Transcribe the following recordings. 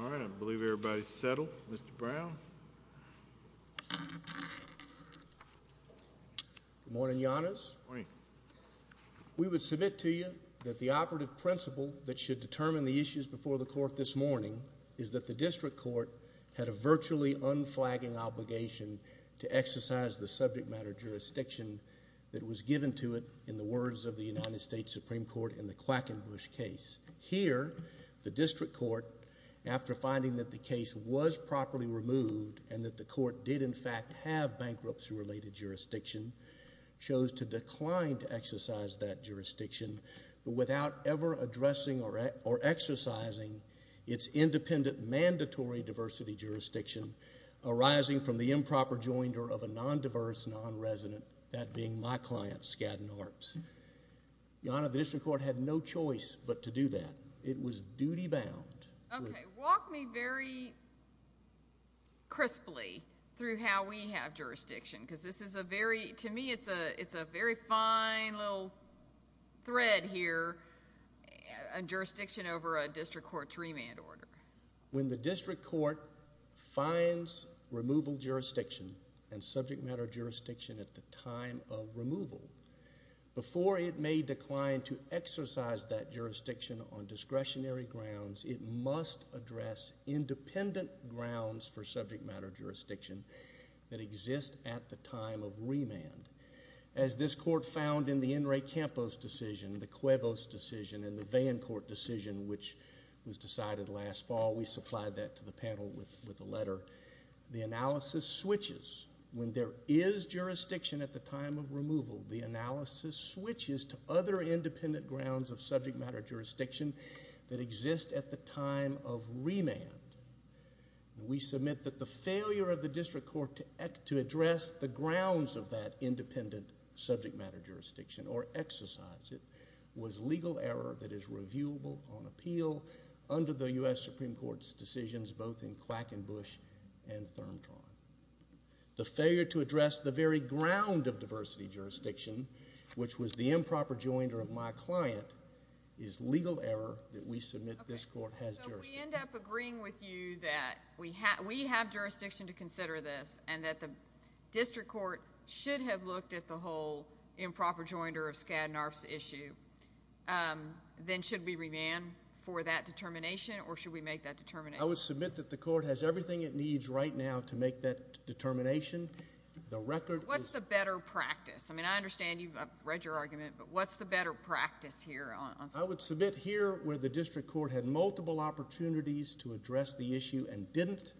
All right, I believe everybody is settled. Mr. Brown? Good morning, Your Honors. Good morning. We would submit to you that the operative principle that should determine the issues before the Court this morning is that the District Court had a virtually unflagging obligation to exercise the subject matter jurisdiction that was given to it in the words of the United States Supreme Court in the Quackenbush case. Here, the District Court, after finding that the case was properly removed and that the Court did in fact have bankruptcy-related jurisdiction, chose to decline to exercise that jurisdiction without ever addressing or exercising its independent mandatory diversity jurisdiction arising from the improper joinder of a non-diverse non-resident, that being my client, Skadden Harps. Your Honor, the District Court had no choice but to do that. It was duty-bound. Okay, walk me very crisply through how we have jurisdiction, because this is a very, to me, it's a very fine little thread here, jurisdiction over a District Court remand order. When the District Court finds removal jurisdiction and subject matter jurisdiction at the time of removal, before it may decline to exercise that jurisdiction on discretionary grounds, it must address independent grounds for subject matter jurisdiction that exist at the time of remand. As this Court found in the Enrique Campos decision, the Cuevas decision, and the Vann Court decision, which was decided last fall, we supplied that to the panel with a letter, the analysis switches. When there is jurisdiction at the time of removal, the analysis switches to other independent grounds of subject matter jurisdiction that exist at the time of remand. We submit that the failure of the District Court to address the grounds of that independent subject matter jurisdiction or exercise it was legal error that is reviewable on appeal under the U.S. Supreme Court's decisions, both in Quackenbush and Thurmtron. The failure to address the very ground of diversity jurisdiction, which was the improper jointer of my client, is legal error that we submit this Court has jurisdiction. If we end up agreeing with you that we have jurisdiction to consider this and that the District Court should have looked at the whole improper jointer of Skaddenarf's issue, then should we remand for that determination or should we make that determination? I would submit that the Court has everything it needs right now to make that determination. What's the better practice? I mean, I understand you've read your argument, but what's the better practice here? I would submit here where the District Court had multiple opportunities to address the issue and didn't,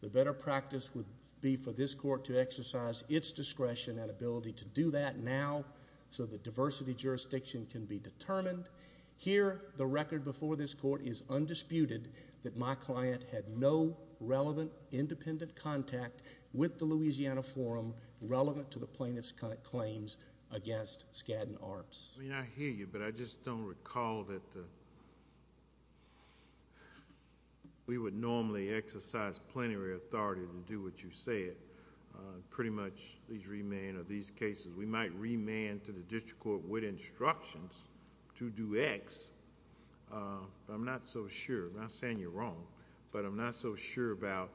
the better practice would be for this Court to exercise its discretion and ability to do that now so the diversity jurisdiction can be determined. Here, the record before this Court is undisputed that my client had no relevant independent contact with the Louisiana Forum relevant to the plaintiff's claims against Skaddenarf's. I hear you, but I just don't recall that we would normally exercise plenary authority to do what you said, pretty much these remand or these cases. We might remand to the District Court with instructions to do X, but I'm not so sure. I'm not saying you're wrong, but I'm not so sure about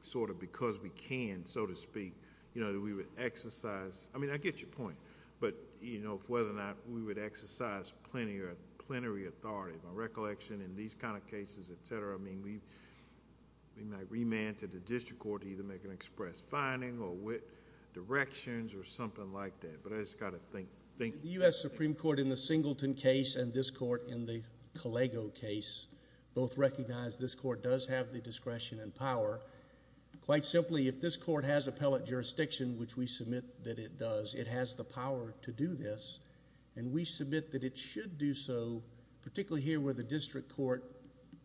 sort of because we can, so to speak, that we would exercise... I mean, I get your point. But, you know, whether or not we would exercise plenary authority, my recollection in these kind of cases, et cetera, I mean, we might remand to the District Court to either make an express finding or directions or something like that, but I just got to think... The U.S. Supreme Court in the Singleton case and this Court in the Collego case both recognize this Court does have the discretion and power. Quite simply, if this Court has appellate jurisdiction, which we submit that it does, it has the power to do this, and we submit that it should do so, particularly here where the District Court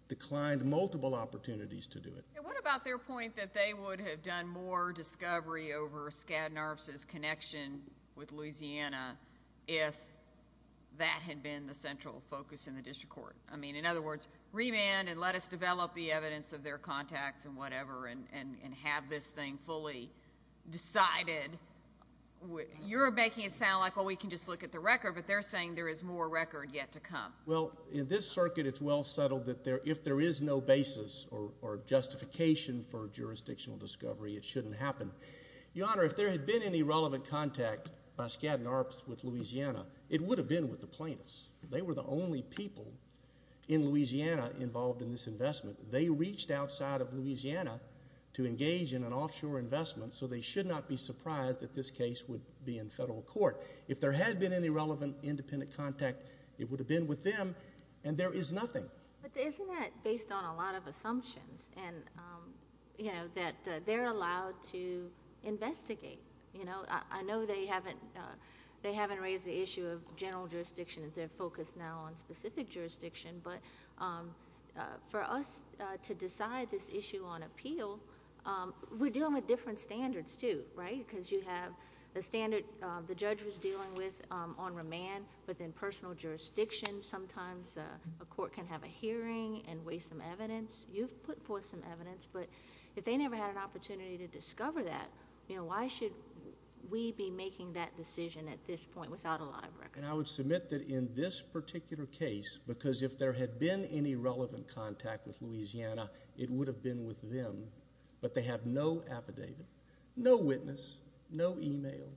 declined multiple opportunities to do it. What about their point that they would have done more discovery over Skaddenarf's connection with Louisiana if that had been the central focus in the District Court? I mean, in other words, remand and let us develop the evidence of their contacts and whatever and have this thing fully decided. You're making it sound like, well, we can just look at the record, but they're saying there is more record yet to come. Well, in this circuit it's well settled that if there is no basis or justification for jurisdictional discovery, it shouldn't happen. Your Honor, if there had been any relevant contact by Skaddenarf's with Louisiana, it would have been with the plaintiffs. They were the only people in Louisiana involved in this investment. They reached outside of Louisiana to engage in an offshore investment, so they should not be surprised that this case would be in federal court. If there had been any relevant independent contact, it would have been with them, and there is nothing. But isn't that based on a lot of assumptions that they're allowed to investigate? I know they haven't raised the issue of general jurisdiction. They're focused now on specific jurisdiction, but for us to decide this issue on appeal, we're dealing with different standards too, right? Because you have the standard the judge was dealing with on remand, but then personal jurisdiction. Sometimes a court can have a hearing and weigh some evidence. You've put forth some evidence, but if they never had an opportunity to discover that, why should we be making that decision at this point without a live record? I would submit that in this particular case, because if there had been any relevant contact with Louisiana, it would have been with them, but they have no affidavit, no witness, no e-mail,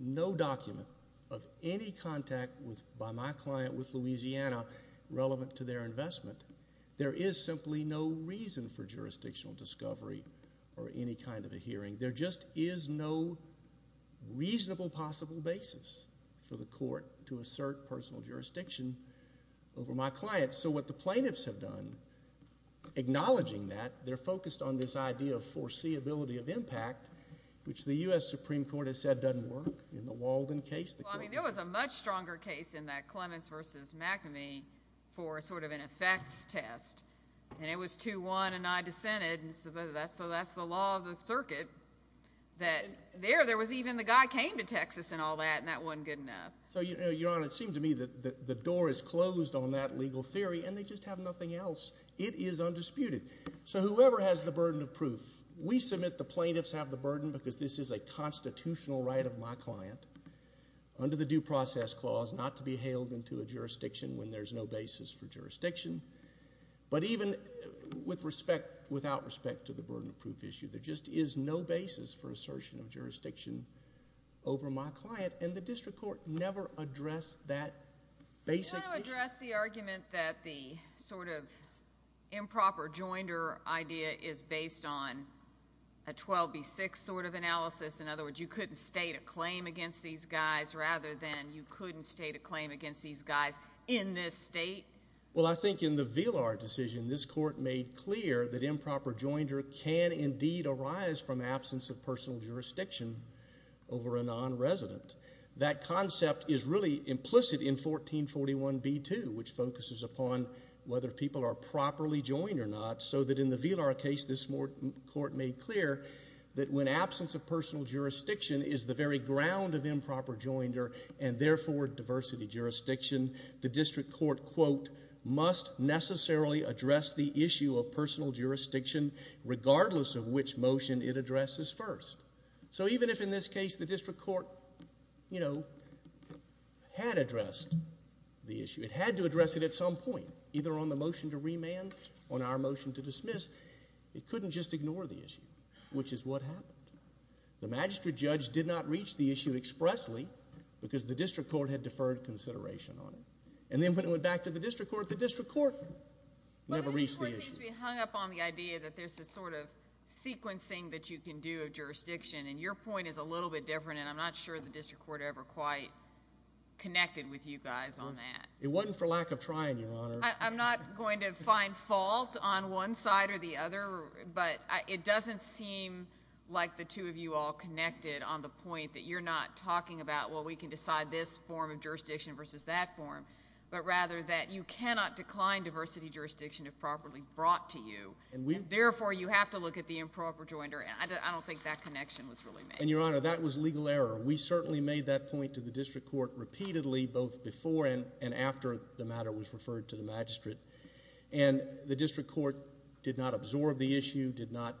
no document of any contact by my client with Louisiana relevant to their investment. There is simply no reason for jurisdictional discovery or any kind of a hearing. There just is no reasonable possible basis for the court to assert personal jurisdiction over my client. So what the plaintiffs have done, acknowledging that, they're focused on this idea of foreseeability of impact, which the U.S. Supreme Court has said doesn't work in the Walden case. There was a much stronger case in that Clements v. McNamee for sort of an effects test, and it was 2-1 and I dissented, so that's the law of the circuit. There, there was even the guy came to Texas and all that, and that wasn't good enough. So, Your Honor, it seemed to me that the door is closed on that legal theory, and they just have nothing else. It is undisputed. So whoever has the burden of proof, we submit the plaintiffs have the burden because this is a constitutional right of my client under the Due Process Clause not to be hailed into a jurisdiction when there's no basis for jurisdiction. But even with respect, without respect to the burden of proof issue, there just is no basis for assertion of jurisdiction over my client, and the district court never addressed that basic issue. Can I address the argument that the sort of improper joinder idea is based on a 12B6 sort of analysis? In other words, you couldn't state a claim against these guys rather than you couldn't state a claim against these guys in this state? Well, I think in the Villar decision, this court made clear that improper joinder can indeed arise from absence of personal jurisdiction over a nonresident. That concept is really implicit in 1441b2, which focuses upon whether people are properly joined or not, so that in the Villar case this court made clear that when absence of personal jurisdiction is the very ground of improper joinder and therefore diversity jurisdiction, the district court, quote, must necessarily address the issue of personal jurisdiction regardless of which motion it addresses first. So even if in this case the district court, you know, had addressed the issue, it had to address it at some point, either on the motion to remand or on our motion to dismiss, it couldn't just ignore the issue, which is what happened. The magistrate judge did not reach the issue expressly because the district court had deferred consideration on it. And then when it went back to the district court, the district court never reached the issue. But I think the court seems to be hung up on the idea that there's this sort of sequencing that you can do of jurisdiction, and your point is a little bit different, and I'm not sure the district court ever quite connected with you guys on that. It wasn't for lack of trying, Your Honor. I'm not going to find fault on one side or the other, but it doesn't seem like the two of you all connected on the point that you're not talking about, well, we can decide this form of jurisdiction versus that form, but rather that you cannot decline diversity jurisdiction if properly brought to you. Therefore, you have to look at the improper joinder, and I don't think that connection was really made. And, Your Honor, that was legal error. We certainly made that point to the district court repeatedly, both before and after the matter was referred to the magistrate. And the district court did not absorb the issue, did not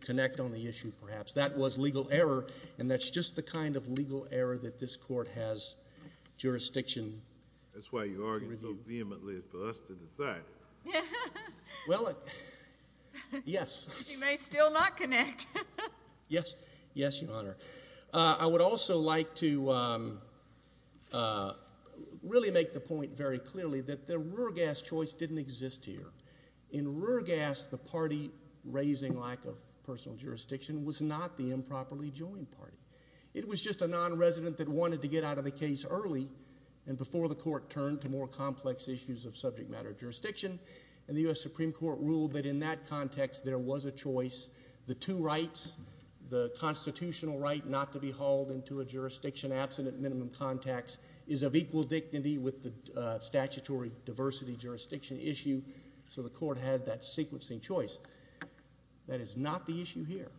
connect on the issue, perhaps. That was legal error, and that's just the kind of legal error that this court has jurisdiction. That's why you argued so vehemently for us to decide. Well, yes. You may still not connect. Yes, Your Honor. I would also like to really make the point very clearly that the Ruergas choice didn't exist here. In Ruergas, the party raising lack of personal jurisdiction was not the improperly joined party. It was just a nonresident that wanted to get out of the case early and before the court turned to more complex issues of subject matter jurisdiction, and the U.S. Supreme Court ruled that in that context there was a choice. The two rights, the constitutional right not to be hauled into a jurisdiction absent at minimum contacts, is of equal dignity with the statutory diversity jurisdiction issue, so the court had that sequencing choice. That is not the issue here.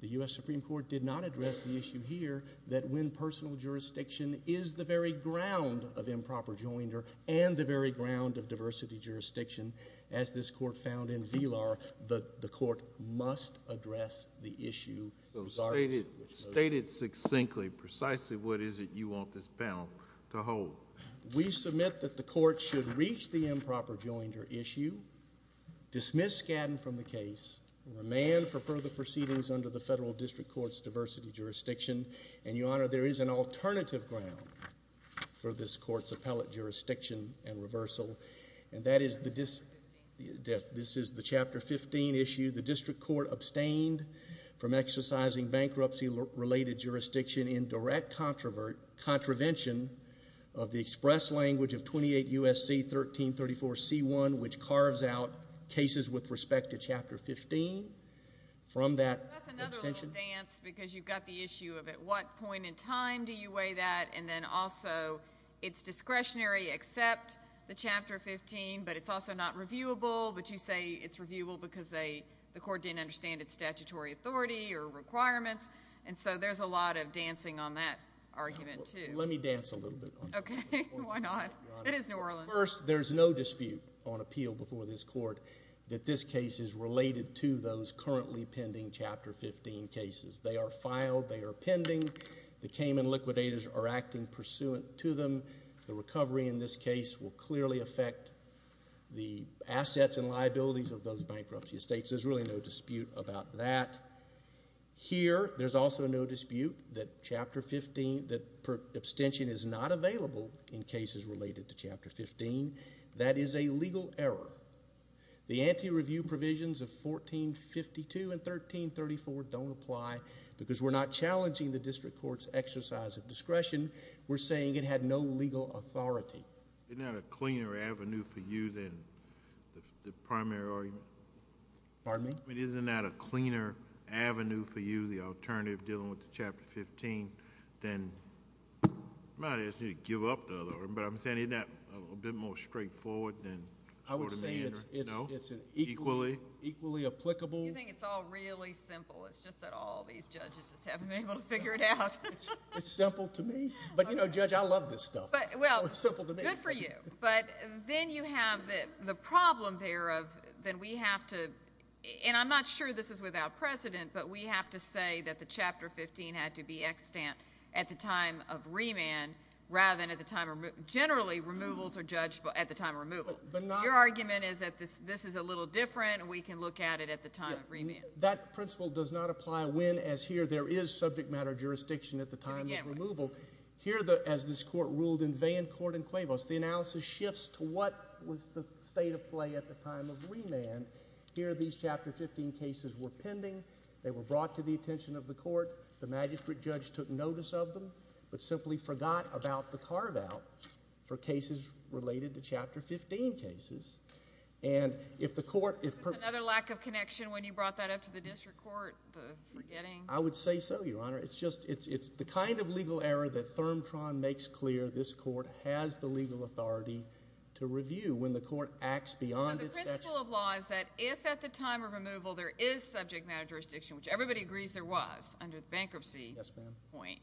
The U.S. Supreme Court did not address the issue here that when personal jurisdiction is the very ground of improper joinder and the very ground of diversity jurisdiction, as this court found in VLAR, the court must address the issue. So state it succinctly. Precisely what is it you want this panel to hold? We submit that the court should reach the improper joinder issue, dismiss Skadden from the case, and remand for further proceedings under the federal district court's diversity jurisdiction, and, Your Honor, there is an alternative ground for this court's appellate jurisdiction and reversal, and that is the chapter 15 issue. The district court abstained from exercising bankruptcy-related jurisdiction in direct contravention of the express language of 28 U.S.C. 1334C1, which carves out cases with respect to chapter 15 from that extension. That's another little dance because you've got the issue of at what point in time do you weigh that, and then also it's discretionary except the chapter 15, but it's also not reviewable, but you say it's reviewable because the court didn't understand its statutory authority or requirements, and so there's a lot of dancing on that argument too. Let me dance a little bit on that. Okay. Why not? It is New Orleans. First, there's no dispute on appeal before this court that this case is related to those currently pending chapter 15 cases. They are filed. They are pending. The Cayman liquidators are acting pursuant to them. The recovery in this case will clearly affect the assets and liabilities of those bankruptcy estates. There's really no dispute about that. Here, there's also no dispute that abstention is not available in cases related to chapter 15. That is a legal error. The anti-review provisions of 1452 and 1334 don't apply because we're not challenging the district court's exercise of discretion. We're saying it had no legal authority. Isn't that a cleaner avenue for you than the primary argument? Pardon me? I mean, isn't that a cleaner avenue for you, the alternative dealing with the chapter 15, than, I'm not asking you to give up the other one, but I'm saying, isn't that a bit more straightforward for the man? I would say it's equally applicable. You think it's all really simple. It's just that all these judges just haven't been able to figure it out. It's simple to me. But, you know, Judge, I love this stuff. It's simple to me. Good for you. But then you have the problem there of then we have to, and I'm not sure this is without precedent, but we have to say that the chapter 15 had to be extant at the time of remand rather than at the time of removal. Generally, removals are judged at the time of removal. Your argument is that this is a little different, and we can look at it at the time of remand. That principle does not apply when, as here, there is subject matter jurisdiction at the time of removal. Here, as this court ruled in Vann, Court, and Cuevas, the analysis shifts to what was the state of play at the time of remand. Here, these chapter 15 cases were pending. They were brought to the attention of the court. The magistrate judge took notice of them but simply forgot about the carve-out for cases related to chapter 15 cases. And if the court— Is this another lack of connection when you brought that up to the district court, the forgetting? I would say so, Your Honor. It's just the kind of legal error that ThermTron makes clear this court has the legal authority to review when the court acts beyond its statute. The principle of law is that if at the time of removal there is subject matter jurisdiction, which everybody agrees there was under the bankruptcy point,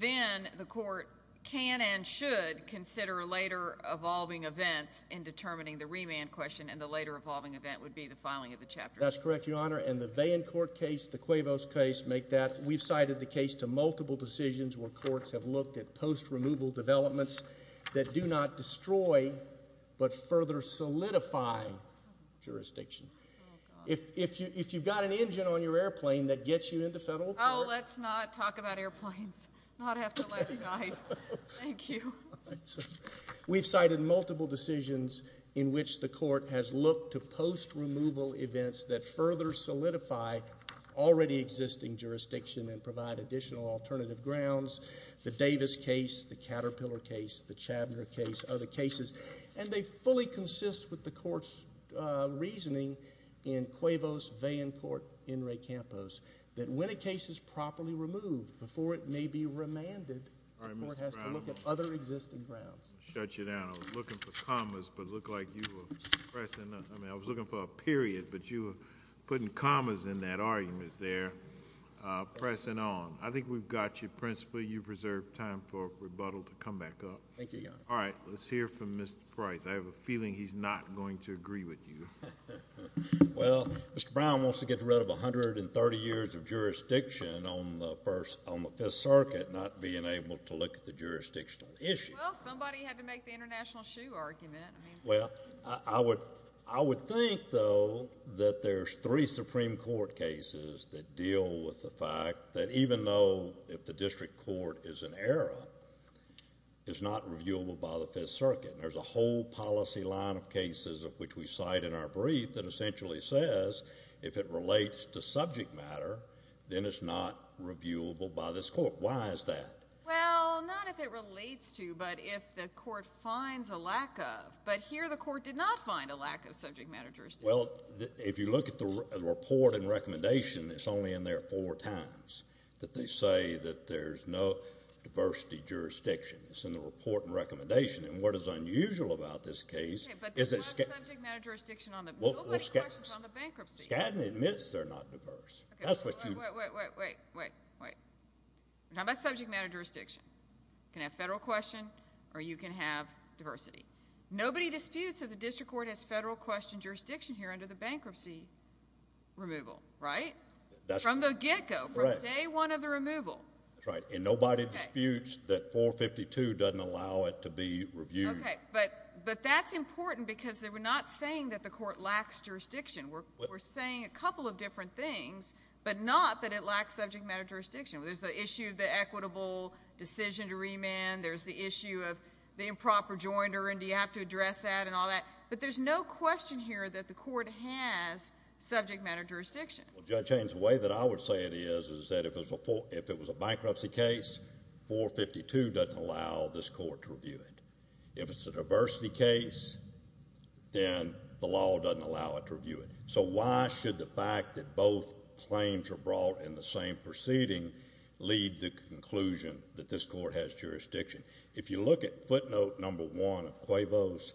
then the court can and should consider later evolving events in determining the remand question, and the later evolving event would be the filing of the chapter 15 case. That's correct, Your Honor. And the Vann Court case, the Cuevas case, make that. We've cited the case to multiple decisions where courts have looked at post-removal developments that do not destroy but further solidify jurisdiction. If you've got an engine on your airplane that gets you into federal court— Oh, let's not talk about airplanes. Not after last night. Thank you. We've cited multiple decisions in which the court has looked to post-removal events that further solidify already existing jurisdiction and provide additional alternative grounds. The Davis case, the Caterpillar case, the Chabner case, other cases, and they fully consist with the court's reasoning in Cuevas, Vann Court, and Re Campos that when a case is properly removed, before it may be remanded, the court has to look at other existing grounds. All right, Mr. Brown, I'm going to shut you down. I was looking for commas, but it looked like you were pressing— I mean, I was looking for a period, but you were putting commas in that argument there, pressing on. I think we've got you principally. You've reserved time for rebuttal to come back up. Thank you, Your Honor. All right, let's hear from Mr. Price. I have a feeling he's not going to agree with you. Well, Mr. Brown wants to get rid of 130 years of jurisdiction on the Fifth Circuit not being able to look at the jurisdictional issue. Well, somebody had to make the international shoe argument. Well, I would think, though, that there's three Supreme Court cases that deal with the fact that even though if the district court is in error, it's not reviewable by the Fifth Circuit. There's a whole policy line of cases of which we cite in our brief that essentially says if it relates to subject matter, then it's not reviewable by this court. Why is that? Well, not if it relates to, but if the court finds a lack of. But here the court did not find a lack of subject matter jurisdiction. Well, if you look at the report and recommendation, it's only in there four times that they say that there's no diversity jurisdiction. It's in the report and recommendation. And what is unusual about this case is that— Okay, but there's no subject matter jurisdiction. Nobody questions on the bankruptcy. Well, Skadden admits they're not diverse. That's what you— Wait, wait, wait, wait, wait, wait. We're talking about subject matter jurisdiction. You can have federal question or you can have diversity. Nobody disputes that the district court has federal question jurisdiction here under the bankruptcy removal, right? That's right. From the get-go, from day one of the removal. That's right. And nobody disputes that 452 doesn't allow it to be reviewed. Okay. But that's important because they were not saying that the court lacks jurisdiction. We're saying a couple of different things, There's the issue of the equitable decision to remand. There's the issue of the improper joinder. And do you have to address that and all that? But there's no question here that the court has subject matter jurisdiction. Well, Judge Haynes, the way that I would say it is is that if it was a bankruptcy case, 452 doesn't allow this court to review it. If it's a diversity case, then the law doesn't allow it to review it. So why should the fact that both claims are brought in the same proceeding lead to the conclusion that this court has jurisdiction? If you look at footnote number one of Cuevos,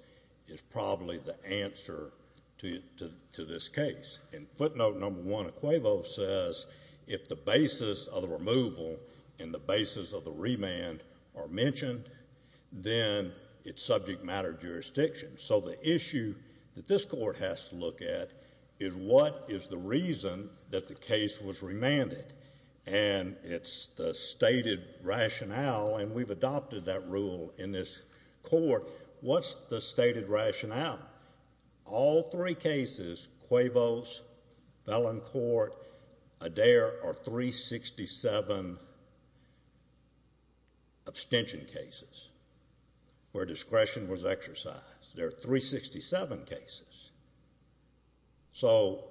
it's probably the answer to this case. And footnote number one of Cuevos says if the basis of the removal and the basis of the remand are mentioned, then it's subject matter jurisdiction. So the issue that this court has to look at is what is the reason that the case was remanded. And it's the stated rationale, and we've adopted that rule in this court. What's the stated rationale? All three cases, Cuevos, Felon Court, Adair, are 367 abstention cases where discretion was exercised. They're 367 cases. So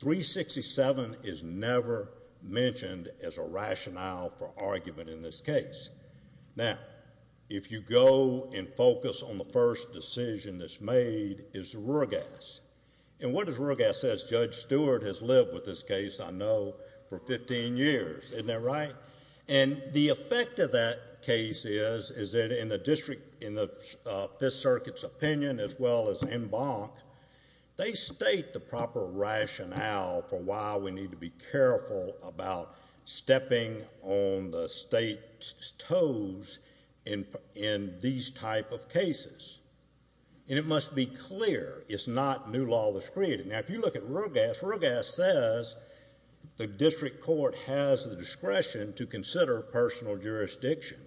367 is never mentioned as a rationale for argument in this case. Now, if you go and focus on the first decision that's made, it's Ruegas. And what does Ruegas say? Judge Stewart has lived with this case, I know, for 15 years. Isn't that right? And the effect of that case is that in the district, in the Fifth Circuit's opinion as well as in Bonk, they state the proper rationale for why we need to be careful about stepping on the state's toes in these type of cases. And it must be clear it's not new law that's created. Now, if you look at Ruegas, Ruegas says the district court has the discretion to consider personal jurisdiction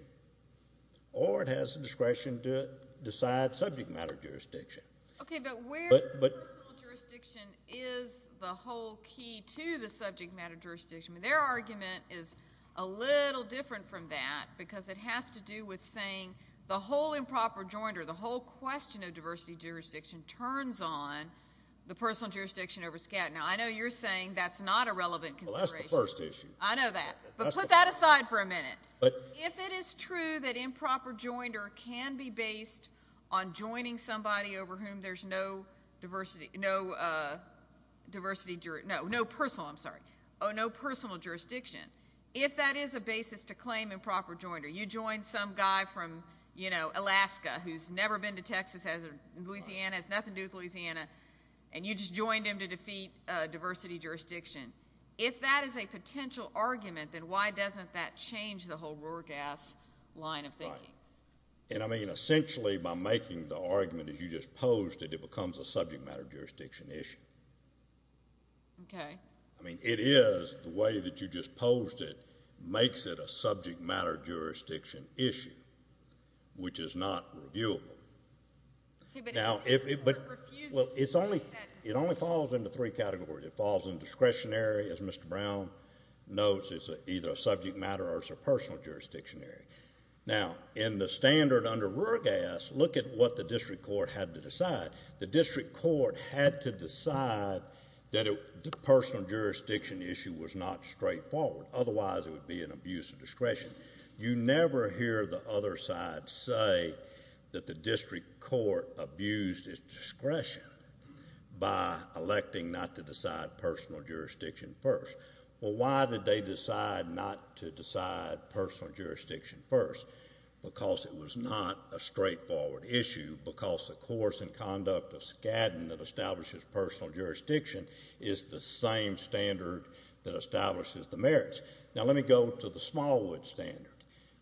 or it has the discretion to decide subject matter jurisdiction. Okay, but where the personal jurisdiction is the whole key to the subject matter jurisdiction. Their argument is a little different from that because it has to do with saying the whole improper jointer, the whole question of diversity jurisdiction turns on the personal jurisdiction over scatter. Now, I know you're saying that's not a relevant consideration. Well, that's the first issue. I know that. But put that aside for a minute. If it is true that improper jointer can be based on joining somebody over whom there's no diversity, no personal, I'm sorry, oh, no personal jurisdiction, if that is a basis to claim improper jointer, you joined some guy from, you know, Alaska who's never been to Texas, has never been to Louisiana, has nothing to do with Louisiana, and you just joined him to defeat diversity jurisdiction, if that is a potential argument, then why doesn't that change the whole Ruegas line of thinking? Right. And, I mean, essentially by making the argument as you just posed it, it becomes a subject matter jurisdiction issue. Okay. I mean, it is the way that you just posed it makes it a subject matter jurisdiction issue, which is not reviewable. Okay, but it refuses to make that decision. Well, it only falls into three categories. It falls in discretionary, as Mr. Brown notes, it's either a subject matter or it's a personal jurisdiction area. Now, in the standard under Ruegas, look at what the district court had to decide. The district court had to decide that the personal jurisdiction issue was not straightforward. Otherwise, it would be an abuse of discretion. You never hear the other side say that the district court abused its discretion by electing not to decide personal jurisdiction first. Well, why did they decide not to decide personal jurisdiction first? Because it was not a straightforward issue. Because the course and conduct of Skadden that establishes personal jurisdiction is the same standard that establishes the merits. Now, let me go to the Smallwood standard.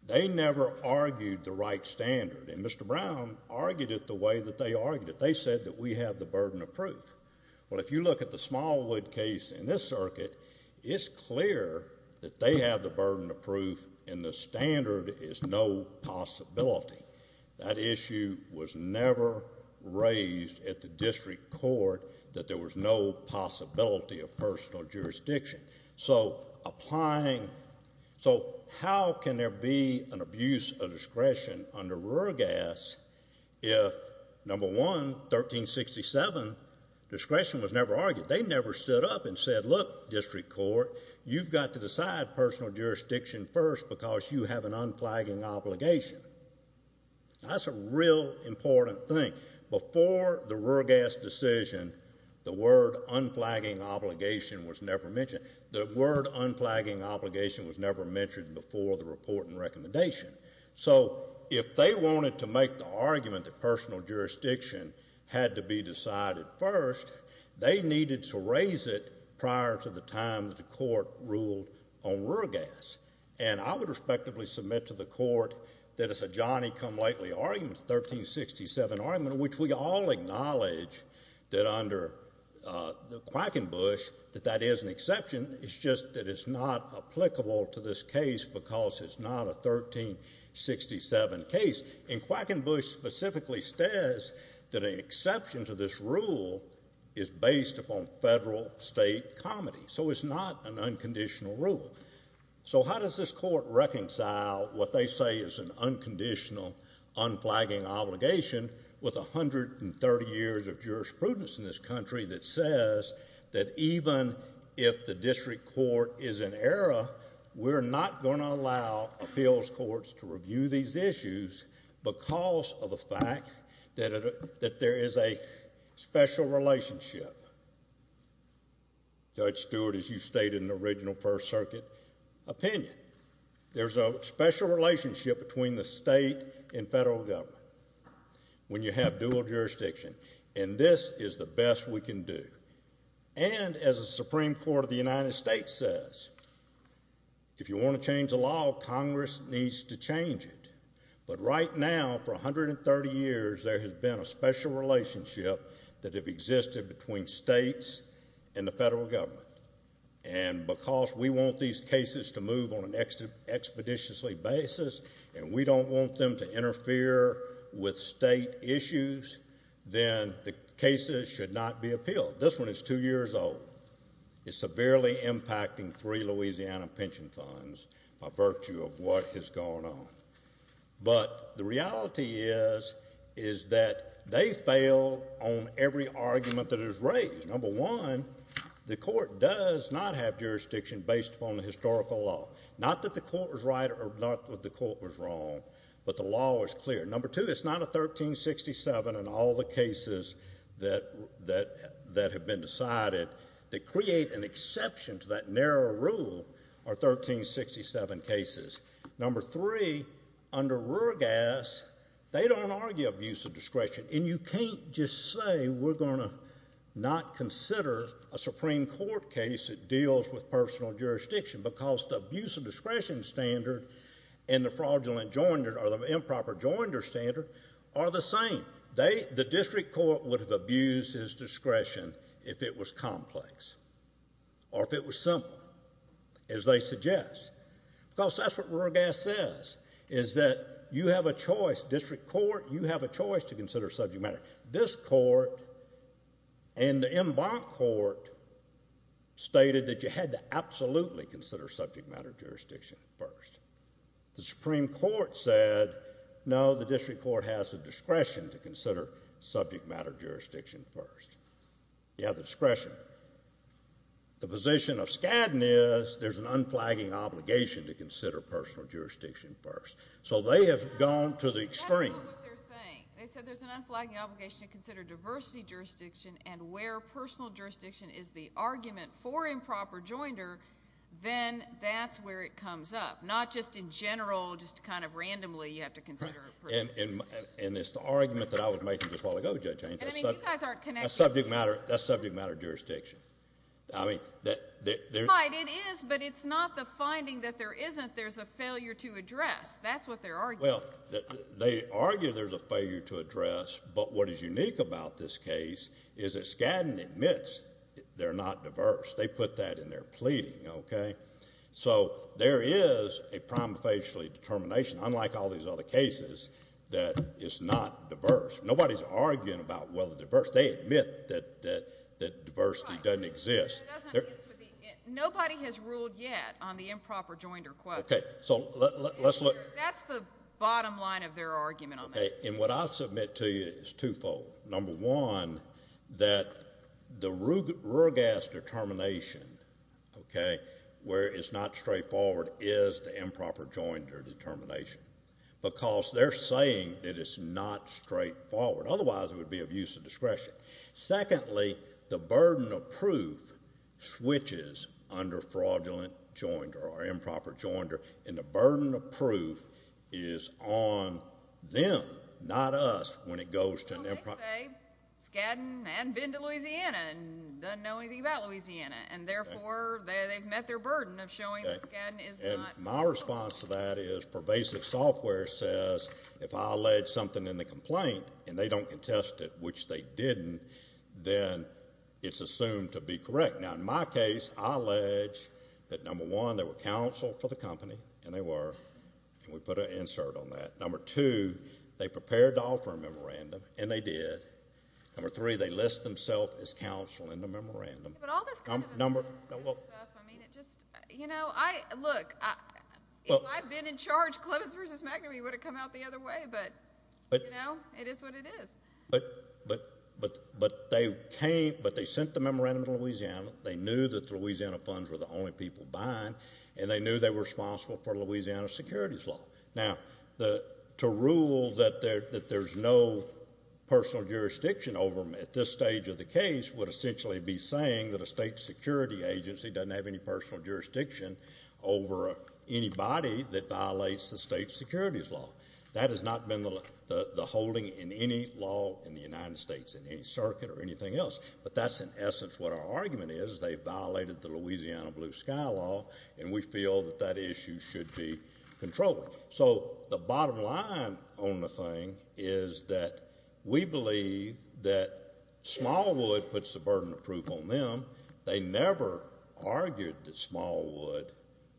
They never argued the right standard, and Mr. Brown argued it the way that they argued it. They said that we have the burden of proof. Well, if you look at the Smallwood case in this circuit, it's clear that they have the burden of proof, and the standard is no possibility. That issue was never raised at the district court that there was no possibility of personal jurisdiction. So how can there be an abuse of discretion under Ruegas if, number one, 1367, discretion was never argued? They never stood up and said, look, district court, you've got to decide personal jurisdiction first because you have an unflagging obligation. That's a real important thing. Before the Ruegas decision, the word unflagging obligation was never mentioned. The word unflagging obligation was never mentioned before the report and recommendation. So if they wanted to make the argument that personal jurisdiction had to be decided first, they needed to raise it prior to the time that the court ruled on Ruegas. And I would respectively submit to the court that it's a Johnny come lightly argument, 1367 argument, which we all acknowledge that under Quackenbush that that is an exception. It's just that it's not applicable to this case because it's not a 1367 case. And Quackenbush specifically says that an exception to this rule is based upon federal state comity. So it's not an unconditional rule. So how does this court reconcile what they say is an unconditional unflagging obligation with 130 years of jurisprudence in this country that says that even if the district court is in error, we're not going to allow appeals courts to review these issues because of the fact that there is a special relationship? Judge Stewart, as you stated in the original First Circuit opinion, there's a special relationship between the state and federal government when you have dual jurisdiction. And this is the best we can do. And as the Supreme Court of the United States says, if you want to change the law, Congress needs to change it. But right now, for 130 years, there has been a special relationship that have existed between states and the federal government. And because we want these cases to move on an expeditiously basis and we don't want them to interfere with state issues, then the cases should not be appealed. This one is two years old. It's severely impacting three Louisiana pension funds by virtue of what has gone on. But the reality is that they fail on every argument that is raised. Number one, the court does not have jurisdiction based upon the historical law. Not that the court was right or not that the court was wrong, but the law was clear. Number two, it's not a 1367 in all the cases that have been decided. To create an exception to that narrow rule are 1367 cases. Number three, under Ruergas, they don't argue abuse of discretion. And you can't just say we're going to not consider a Supreme Court case that deals with personal jurisdiction because the abuse of discretion standard and the fraudulent joinder or the improper joinder standard are the same. The district court would have abused his discretion if it was complex or if it was simple, as they suggest. Because that's what Ruergas says, is that you have a choice. District court, you have a choice to consider subject matter. This court and the Embank court stated that you had to absolutely consider subject matter jurisdiction first. The Supreme Court said, no, the district court has the discretion to consider subject matter jurisdiction first. You have the discretion. The position of Skadden is there's an unflagging obligation to consider personal jurisdiction first. So they have gone to the extreme. I don't know what they're saying. They said there's an unflagging obligation to consider diversity jurisdiction, and where personal jurisdiction is the argument for improper joinder, then that's where it comes up, not just in general, just kind of randomly you have to consider personal jurisdiction. And it's the argument that I was making just a while ago, Judge Haynes. I mean, you guys aren't connected. That's subject matter jurisdiction. I mean, there is, but it's not the finding that there isn't. There's a failure to address. That's what they're arguing. Well, they argue there's a failure to address, but what is unique about this case is that Skadden admits they're not diverse. They put that in their pleading, okay? So there is a prima facie determination, unlike all these other cases, that it's not diverse. Nobody's arguing about whether it's diverse. They admit that diversity doesn't exist. Nobody has ruled yet on the improper joinder question. Okay, so let's look. That's the bottom line of their argument on that. Okay, and what I submit to you is twofold. Number one, that the rural gas determination, okay, where it's not straightforward is the improper joinder determination because they're saying that it's not straightforward. Otherwise, it would be abuse of discretion. Secondly, the burden of proof switches under fraudulent joinder or improper joinder, and the burden of proof is on them, not us, when it goes to an improper joinder. Well, they say Skadden hadn't been to Louisiana and doesn't know anything about Louisiana, and therefore they've met their burden of showing that Skadden is not. And my response to that is pervasive software says if I allege something in the complaint and they don't contest it, which they didn't, then it's assumed to be correct. Now, in my case, I allege that, number one, they were counsel for the company, and they were, and we put an insert on that. Number two, they prepared to offer a memorandum, and they did. Number three, they list themselves as counsel in the memorandum. But all this kind of analysis stuff, I mean, it just, you know, look, if I'd been in charge, Clemens v. McNamee would have come out the other way, but, you know, it is what it is. But they sent the memorandum to Louisiana. They knew that the Louisiana funds were the only people buying, and they knew they were responsible for Louisiana securities law. Now, to rule that there's no personal jurisdiction over them at this stage of the case would essentially be saying that a state security agency doesn't have any personal jurisdiction over anybody that violates the state securities law. That has not been the holding in any law in the United States in any circuit or anything else. But that's, in essence, what our argument is. They violated the Louisiana blue sky law, and we feel that that issue should be controlled. So the bottom line on the thing is that we believe that Smallwood puts the burden of proof on them. They never argued that Smallwood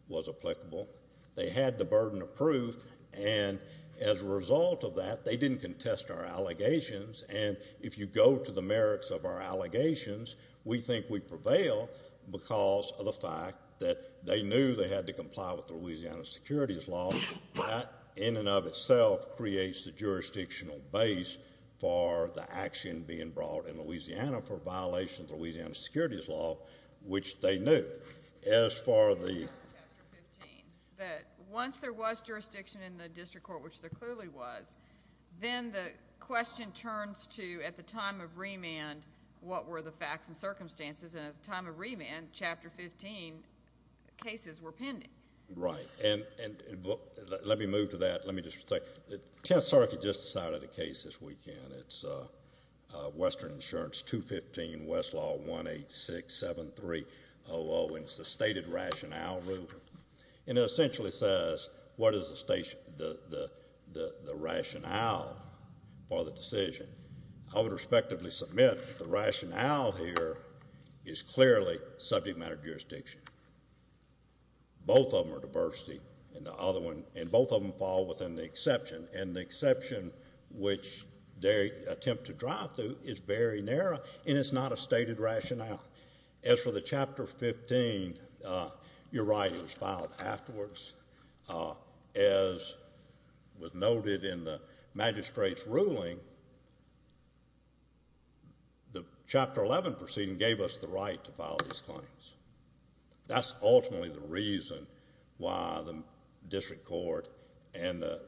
was applicable. They had the burden of proof, and as a result of that, they didn't contest our allegations. And if you go to the merits of our allegations, we think we prevail because of the fact that they knew they had to comply with Louisiana securities law. That, in and of itself, creates the jurisdictional base for the action being brought in Louisiana for violation of Louisiana securities law, which they knew. ...chapter 15, that once there was jurisdiction in the district court, which there clearly was, then the question turns to, at the time of remand, what were the facts and circumstances, and at the time of remand, chapter 15, cases were pending. Right. And let me move to that. Let me just say the Tenth Circuit just decided a case this weekend. It's Western Insurance 215 Westlaw 1867300, and it's the stated rationale rule. And it essentially says, what is the rationale for the decision? I would respectively submit the rationale here is clearly subject matter jurisdiction. Both of them are diversity, and both of them fall within the exception, and the exception which they attempt to drive through is very narrow, and it's not a stated rationale. As for the chapter 15, you're right, it was filed afterwards. As was noted in the magistrate's ruling, the chapter 11 proceeding gave us the right to file these claims. That's ultimately the reason why the district court and the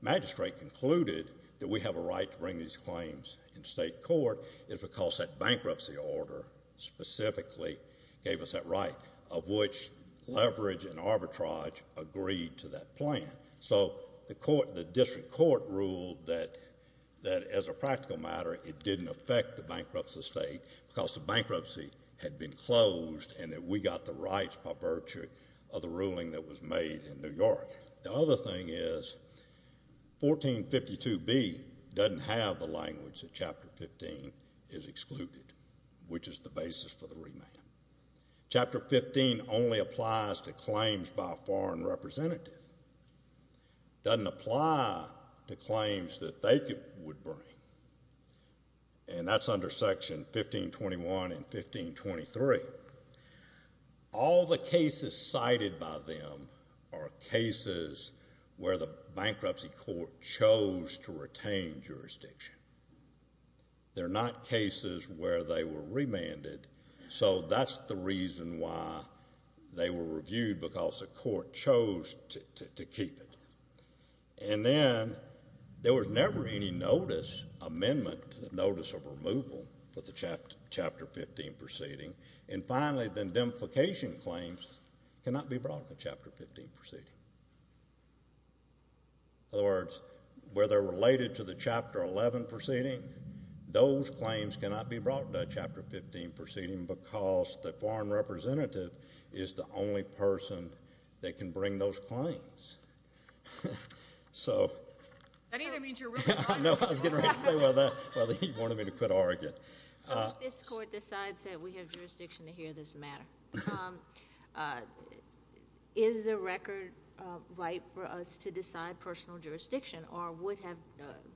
magistrate concluded that we have a right to bring these claims in state court is because that bankruptcy order specifically gave us that right, of which leverage and arbitrage agreed to that plan. So the district court ruled that, as a practical matter, it didn't affect the bankruptcy of the state because the bankruptcy had been closed and that we got the rights by virtue of the ruling that was made in New York. The other thing is 1452B doesn't have the language that chapter 15 is excluded, which is the basis for the remand. Chapter 15 only applies to claims by a foreign representative. It doesn't apply to claims that they would bring, and that's under Section 1521 and 1523. All the cases cited by them are cases where the bankruptcy court chose to retain jurisdiction. They're not cases where they were remanded, so that's the reason why they were reviewed, because the court chose to keep it. And then there was never any notice amendment to the notice of removal for the chapter 15 proceeding. And finally, the demolification claims cannot be brought to the chapter 15 proceeding. In other words, where they're related to the chapter 11 proceeding, those claims cannot be brought to the chapter 15 proceeding because the foreign representative is the only person that can bring those claims. That either means you're really wrong. No, I was getting ready to say whether he wanted me to quit arguing. If this court decides that we have jurisdiction to hear this matter, is the record right for us to decide personal jurisdiction, or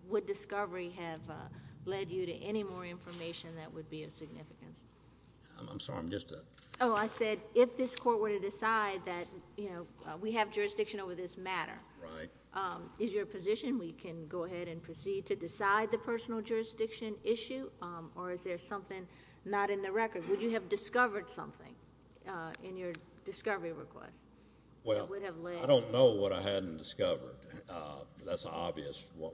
would discovery have led you to any more information that would be of significance? I'm sorry, I'm just a— Oh, I said if this court were to decide that we have jurisdiction over this matter. Right. Is your position we can go ahead and proceed to decide the personal jurisdiction issue, or is there something not in the record? Would you have discovered something in your discovery request? Well, I don't know what I hadn't discovered. That's obvious. Well,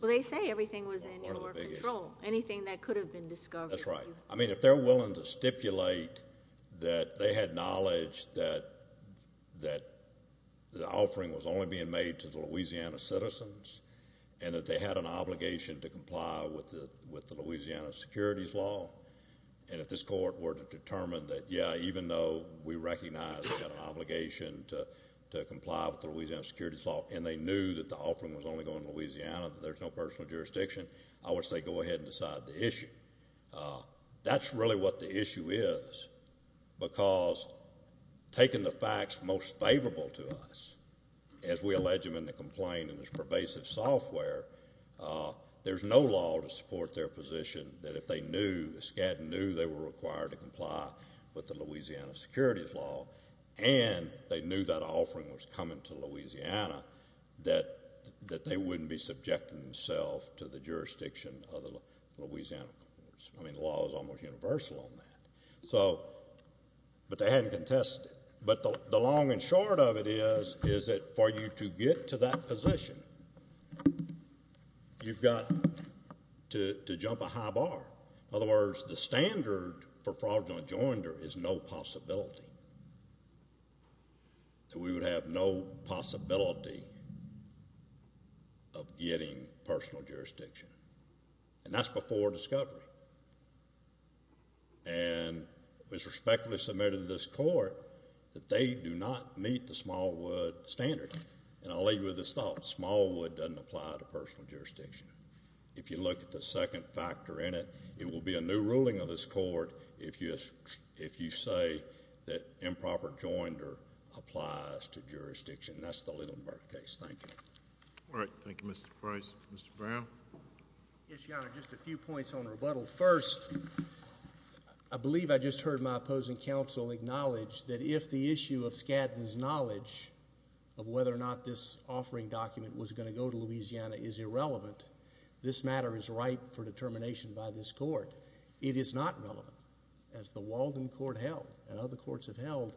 they say everything was in your control. Anything that could have been discovered. That's right. I mean, if they're willing to stipulate that they had knowledge that the offering was only being made to the Louisiana citizens and that they had an obligation to comply with the Louisiana securities law, and if this court were to determine that, yeah, and they knew that the offering was only going to Louisiana, that there's no personal jurisdiction, I would say go ahead and decide the issue. That's really what the issue is, because taking the facts most favorable to us, as we allege them in the complaint in this pervasive software, there's no law to support their position that if they knew, the SCAD knew they were required to comply with the Louisiana securities law, and they knew that offering was coming to Louisiana, that they wouldn't be subjecting themselves to the jurisdiction of the Louisiana courts. I mean, the law is almost universal on that. So, but they hadn't contested it. But the long and short of it is, is that for you to get to that position, you've got to jump a high bar. In other words, the standard for fraudulent joinder is no possibility, that we would have no possibility of getting personal jurisdiction. And that's before discovery. And it was respectfully submitted to this court that they do not meet the Smallwood standard. And I'll leave you with this thought. Smallwood doesn't apply to personal jurisdiction. If you look at the second factor in it, it will be a new ruling of this court if you say that improper joinder applies to jurisdiction. That's the Lidlenberg case. Thank you. All right. Thank you, Mr. Price. Mr. Brown? Yes, Your Honor. Just a few points on rebuttal. First, I believe I just heard my opposing counsel acknowledge that if the issue of SCAD's knowledge of whether or not this offering document was going to go to Louisiana is irrelevant, this matter is ripe for determination by this court. It is not relevant. As the Walden court held, and other courts have held,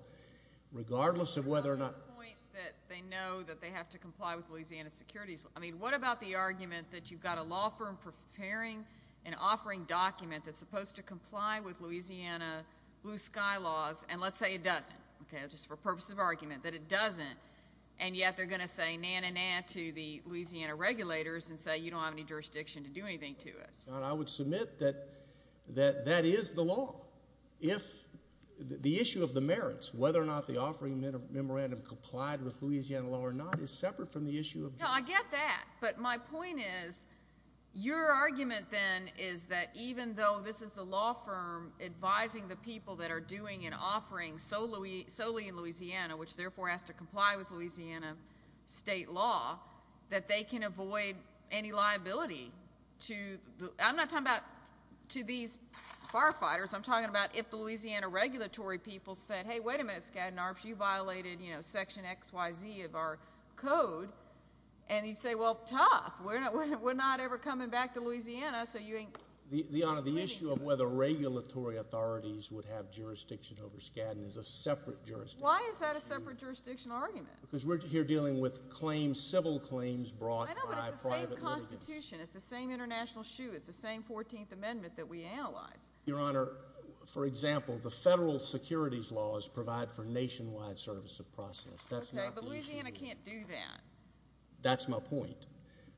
regardless of whether or not On this point that they know that they have to comply with Louisiana securities, I mean, what about the argument that you've got a law firm preparing an offering document that's supposed to comply with Louisiana blue sky laws, and let's say it doesn't, okay, just for purposes of argument, that it doesn't, and yet they're going to say na-na-na to the Louisiana regulators and say you don't have any jurisdiction to do anything to us. Your Honor, I would submit that that is the law. If the issue of the merits, whether or not the offering memorandum complied with Louisiana law or not, is separate from the issue of jurisdiction. No, I get that, but my point is your argument then is that even though this is the law firm advising the people that are doing an offering solely in Louisiana, which therefore has to comply with Louisiana state law, that they can avoid any liability. I'm not talking about to these firefighters. I'm talking about if the Louisiana regulatory people said, hey, wait a minute, Skadden Arps, you violated section XYZ of our code, and you say, well, tough, we're not ever coming back to Louisiana. Your Honor, the issue of whether regulatory authorities would have jurisdiction over Skadden is a separate jurisdiction. Why is that a separate jurisdictional argument? Because we're here dealing with claims, civil claims brought by private litigants. I know, but it's the same Constitution. It's the same international shoe. It's the same 14th Amendment that we analyze. Your Honor, for example, the federal securities laws provide for nationwide service of process. Okay, but Louisiana can't do that. That's my point.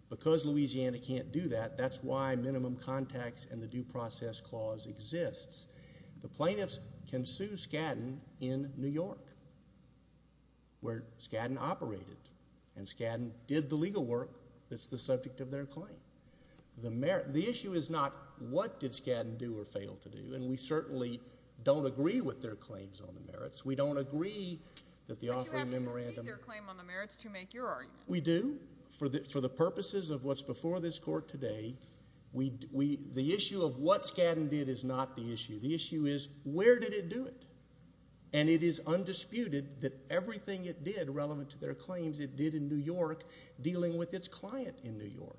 Because Louisiana can't do that, that's why minimum contacts and the due process clause exists. The plaintiffs can sue Skadden in New York, where Skadden operated, and Skadden did the legal work that's the subject of their claim. The issue is not what did Skadden do or fail to do, and we certainly don't agree with their claims on the merits. We don't agree that the offering memorandum— But you have to concede their claim on the merits to make your argument. We do, for the purposes of what's before this court today. The issue of what Skadden did is not the issue. The issue is where did it do it? And it is undisputed that everything it did relevant to their claims it did in New York, dealing with its client in New York.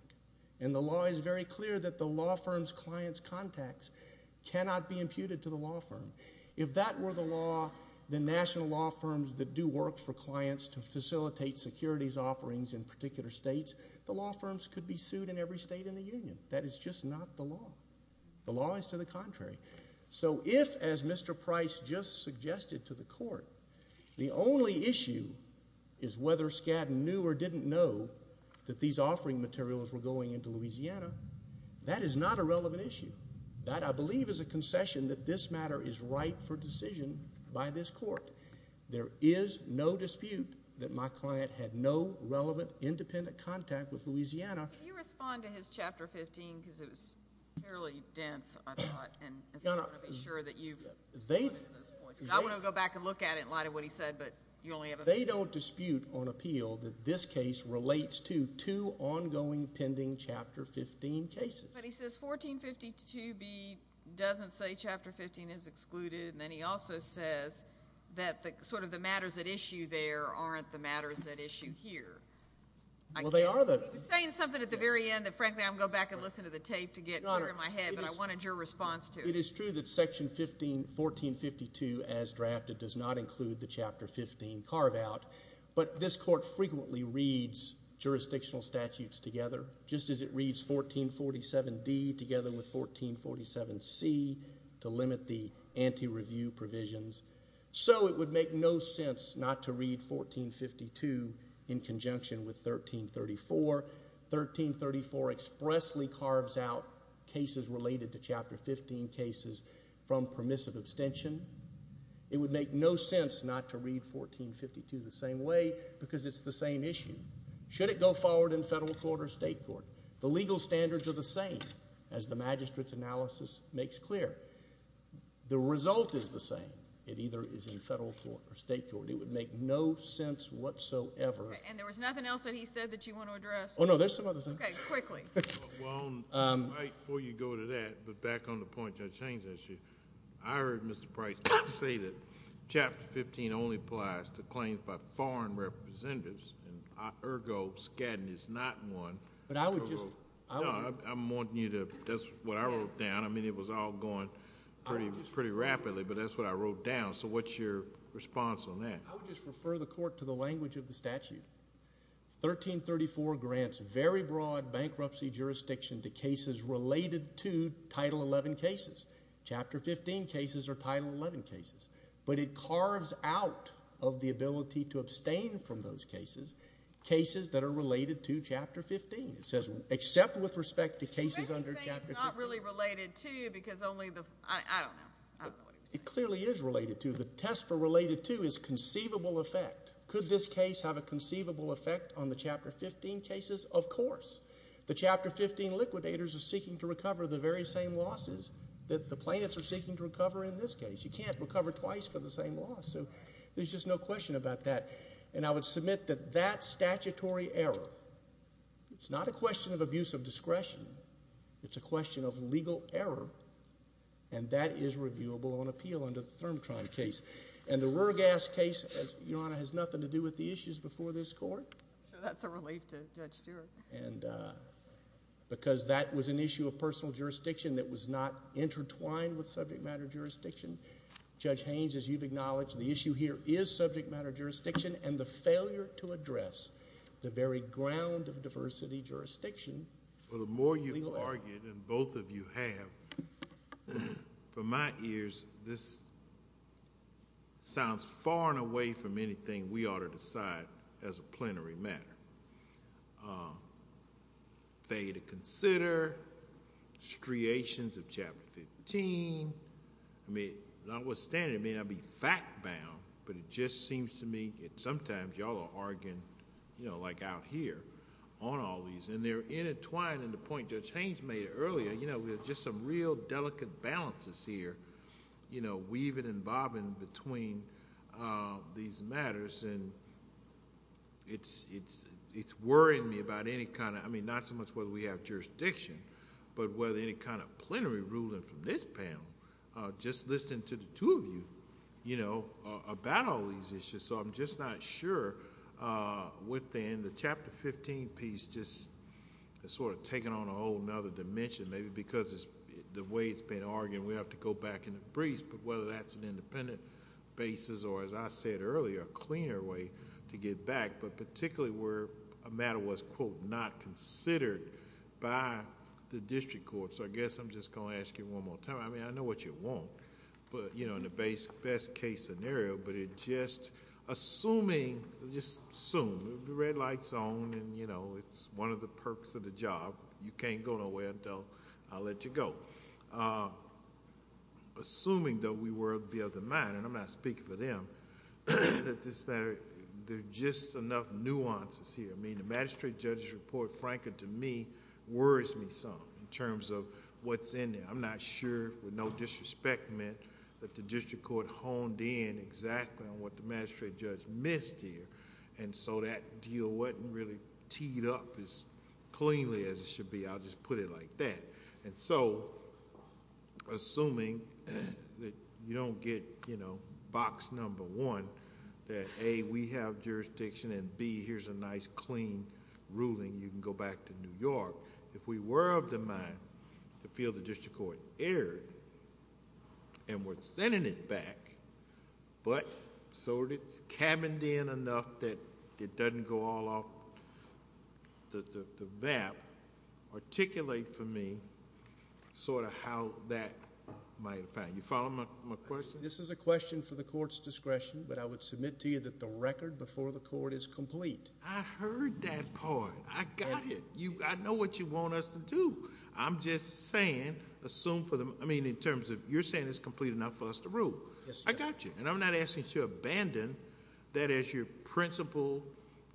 And the law is very clear that the law firm's client's contacts cannot be imputed to the law firm. If that were the law, the national law firms that do work for clients to facilitate securities offerings in particular states, the law firms could be sued in every state in the union. That is just not the law. The law is to the contrary. So if, as Mr. Price just suggested to the court, the only issue is whether Skadden knew or didn't know that these offering materials were going into Louisiana, that is not a relevant issue. That, I believe, is a concession that this matter is right for decision by this court. There is no dispute that my client had no relevant independent contact with Louisiana. Can you respond to his Chapter 15 because it was fairly dense, I thought, and I want to be sure that you've pointed to those points. I want to go back and look at it in light of what he said, but you only have a few minutes. They don't dispute on appeal that this case relates to two ongoing pending Chapter 15 cases. But he says 1452B doesn't say Chapter 15 is excluded, and then he also says that sort of the matters at issue there aren't the matters at issue here. Well, they are. He's saying something at the very end that frankly I'm going to go back and listen to the tape to get clear in my head, but I wanted your response to it. It is true that Section 1452 as drafted does not include the Chapter 15 carve-out, but this court frequently reads jurisdictional statutes together, just as it reads 1447D together with 1447C to limit the anti-review provisions. So it would make no sense not to read 1452 in conjunction with 1334. 1334 expressly carves out cases related to Chapter 15 cases from permissive abstention. It would make no sense not to read 1452 the same way because it's the same issue. Should it go forward in federal court or state court? The legal standards are the same, as the magistrate's analysis makes clear. The result is the same. It either is in federal court or state court. It would make no sense whatsoever. And there was nothing else that he said that you want to address? Oh, no, there's some other things. Okay, quickly. Well, right before you go to that, but back on the point Judge Chayes issued, I heard Mr. Price say that Chapter 15 only applies to claims by foreign representatives, and, ergo, Skadden is not one. But I would just— No, I'm wanting you to—that's what I wrote down. I mean, it was all going pretty rapidly, but that's what I wrote down. So what's your response on that? I would just refer the court to the language of the statute. 1334 grants very broad bankruptcy jurisdiction to cases related to Title XI cases. Chapter 15 cases are Title XI cases. But it carves out of the ability to abstain from those cases, cases that are related to Chapter 15. It says, except with respect to cases under Chapter 15. You made me say it's not really related to because only the—I don't know. I don't know what he was saying. It clearly is related to. The test for related to is conceivable effect. Could this case have a conceivable effect on the Chapter 15 cases? Of course. The Chapter 15 liquidators are seeking to recover the very same losses that the plaintiffs are seeking to recover in this case. You can't recover twice for the same loss. So there's just no question about that. And I would submit that that statutory error, it's not a question of abuse of discretion. It's a question of legal error, and that is reviewable on appeal under the Therm-Trime case. And the Ruhr gas case, Your Honor, has nothing to do with the issues before this court. That's a relief to Judge Stewart. And because that was an issue of personal jurisdiction that was not intertwined with subject matter jurisdiction, Judge Haynes, as you've acknowledged, the issue here is subject matter jurisdiction and the failure to address the very ground of diversity jurisdiction. Well, the more you've argued, and both of you have, from my ears, this sounds far and away from anything we ought to decide as a plenary matter. Failure to consider striations of Chapter 15. I mean, notwithstanding, it may not be fact-bound, but it just seems to me that sometimes y'all are arguing, you know, like out here on all these, and they're intertwined in the point Judge Haynes made earlier. You know, there's just some real delicate balances here, you know, weaving and bobbing between these matters. And it's worrying me about any kind of, I mean, not so much whether we have jurisdiction, but whether any kind of plenary ruling from this panel, just listening to the two of you, you know, about all these issues. So I'm just not sure within the Chapter 15 piece, just sort of taking on a whole other dimension, maybe because the way it's been argued, we have to go back in the breeze, but whether that's an independent basis or, as I said earlier, a cleaner way to get back, but particularly where a matter was, quote, not considered by the district court. So I guess I'm just going to ask you one more time. I mean, I know what you want, but, you know, in the best case scenario, but it just, assuming, just assume, the red light's on, and, you know, it's one of the perks of the job. You can't go nowhere until I let you go. Assuming, though, we were of the other mind, and I'm not speaking for them, that this matter, there's just enough nuances here. I mean, the magistrate judge's report, frank and to me, worries me some in terms of what's in there. I'm not sure, with no disrespect meant, that the district court honed in exactly on what the magistrate judge missed here, and so that deal wasn't really teed up as cleanly as it should be. I'll just put it like that. And so, assuming that you don't get, you know, box number one, that A, we have jurisdiction, and B, here's a nice, clean ruling, you can go back to New York. If we were of the mind to feel the district court erred, and we're sending it back, but so it's cabined in enough that it doesn't go all off the map, articulate for me sort of how that might apply. You follow my question? This is a question for the court's discretion, but I would submit to you that the record before the court is complete. I heard that part. I got it. I know what you want us to do. I'm just saying, assume for the, I mean, in terms of, you're saying it's complete enough for us to rule. Yes, sir. I got you. And I'm not asking you to abandon that as your principal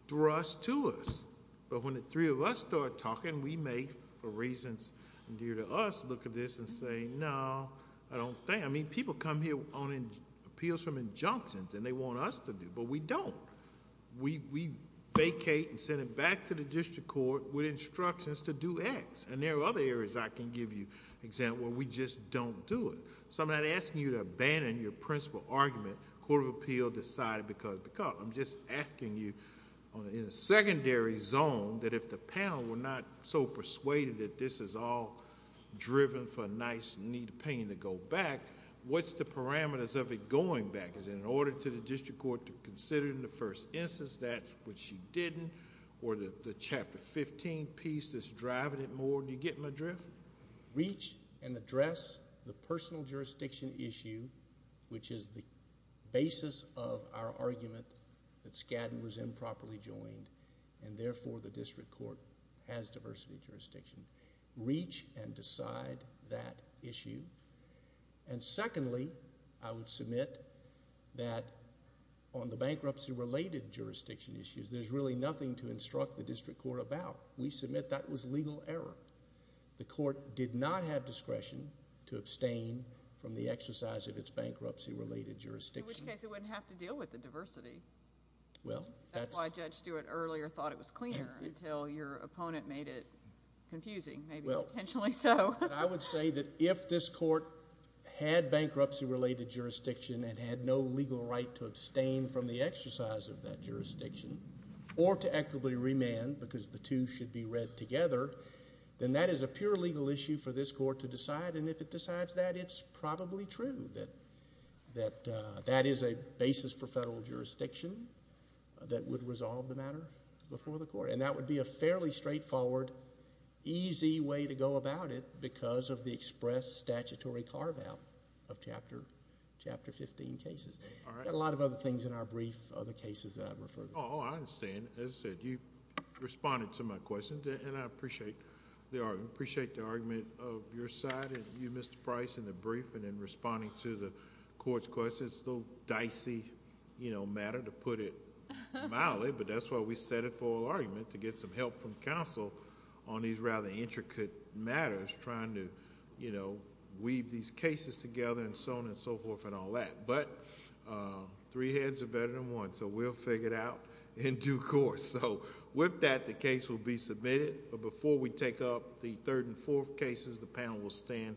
thrust to us. But when the three of us start talking, we may, for reasons dear to us, look at this and say, no, I don't think. I mean, people come here on appeals from injunctions, and they want us to do, but we don't. We vacate and send it back to the district court with instructions to do X. And there are other areas I can give you example where we just don't do it. So I'm not asking you to abandon your principal argument, court of appeal decided because, because. I'm just asking you in a secondary zone that if the panel were not so persuaded that this is all driven for a nice neat pain to go back, what's the parameters of it going back? Is it an order to the district court to consider in the first instance that which she didn't? Or the chapter 15 piece that's driving it more? Do you get my drift? Reach and address the personal jurisdiction issue, which is the basis of our argument that Skadden was improperly joined. And therefore, the district court has diversity jurisdiction. Reach and decide that issue. And secondly, I would submit that on the bankruptcy-related jurisdiction issues, there's really nothing to instruct the district court about. We submit that was legal error. The court did not have discretion to abstain from the exercise of its bankruptcy-related jurisdiction. In which case, it wouldn't have to deal with the diversity. Well, that's. That's why Judge Stewart earlier thought it was cleaner until your opponent made it confusing, maybe potentially so. I would say that if this court had bankruptcy-related jurisdiction and had no legal right to abstain from the exercise of that jurisdiction, or to actively remand because the two should be read together, then that is a pure legal issue for this court to decide. And if it decides that, it's probably true that that is a basis for federal jurisdiction that would resolve the matter before the court. And that would be a fairly straightforward, easy way to go about it because of the express statutory carve-out of Chapter 15 cases. We've got a lot of other things in our brief, other cases that I've referred to. Oh, I understand. As I said, you responded to my question, and I appreciate the argument. I appreciate the argument of your side and you, Mr. Price, in the brief and in responding to the court's questions. I know it's a little dicey matter, to put it mildly, but that's why we set it for an argument to get some help from counsel on these rather intricate matters trying to weave these cases together and so on and so forth and all that. But three heads are better than one, so we'll figure it out in due course. With that, the case will be submitted. But before we take up the third and fourth cases, the panel will stand.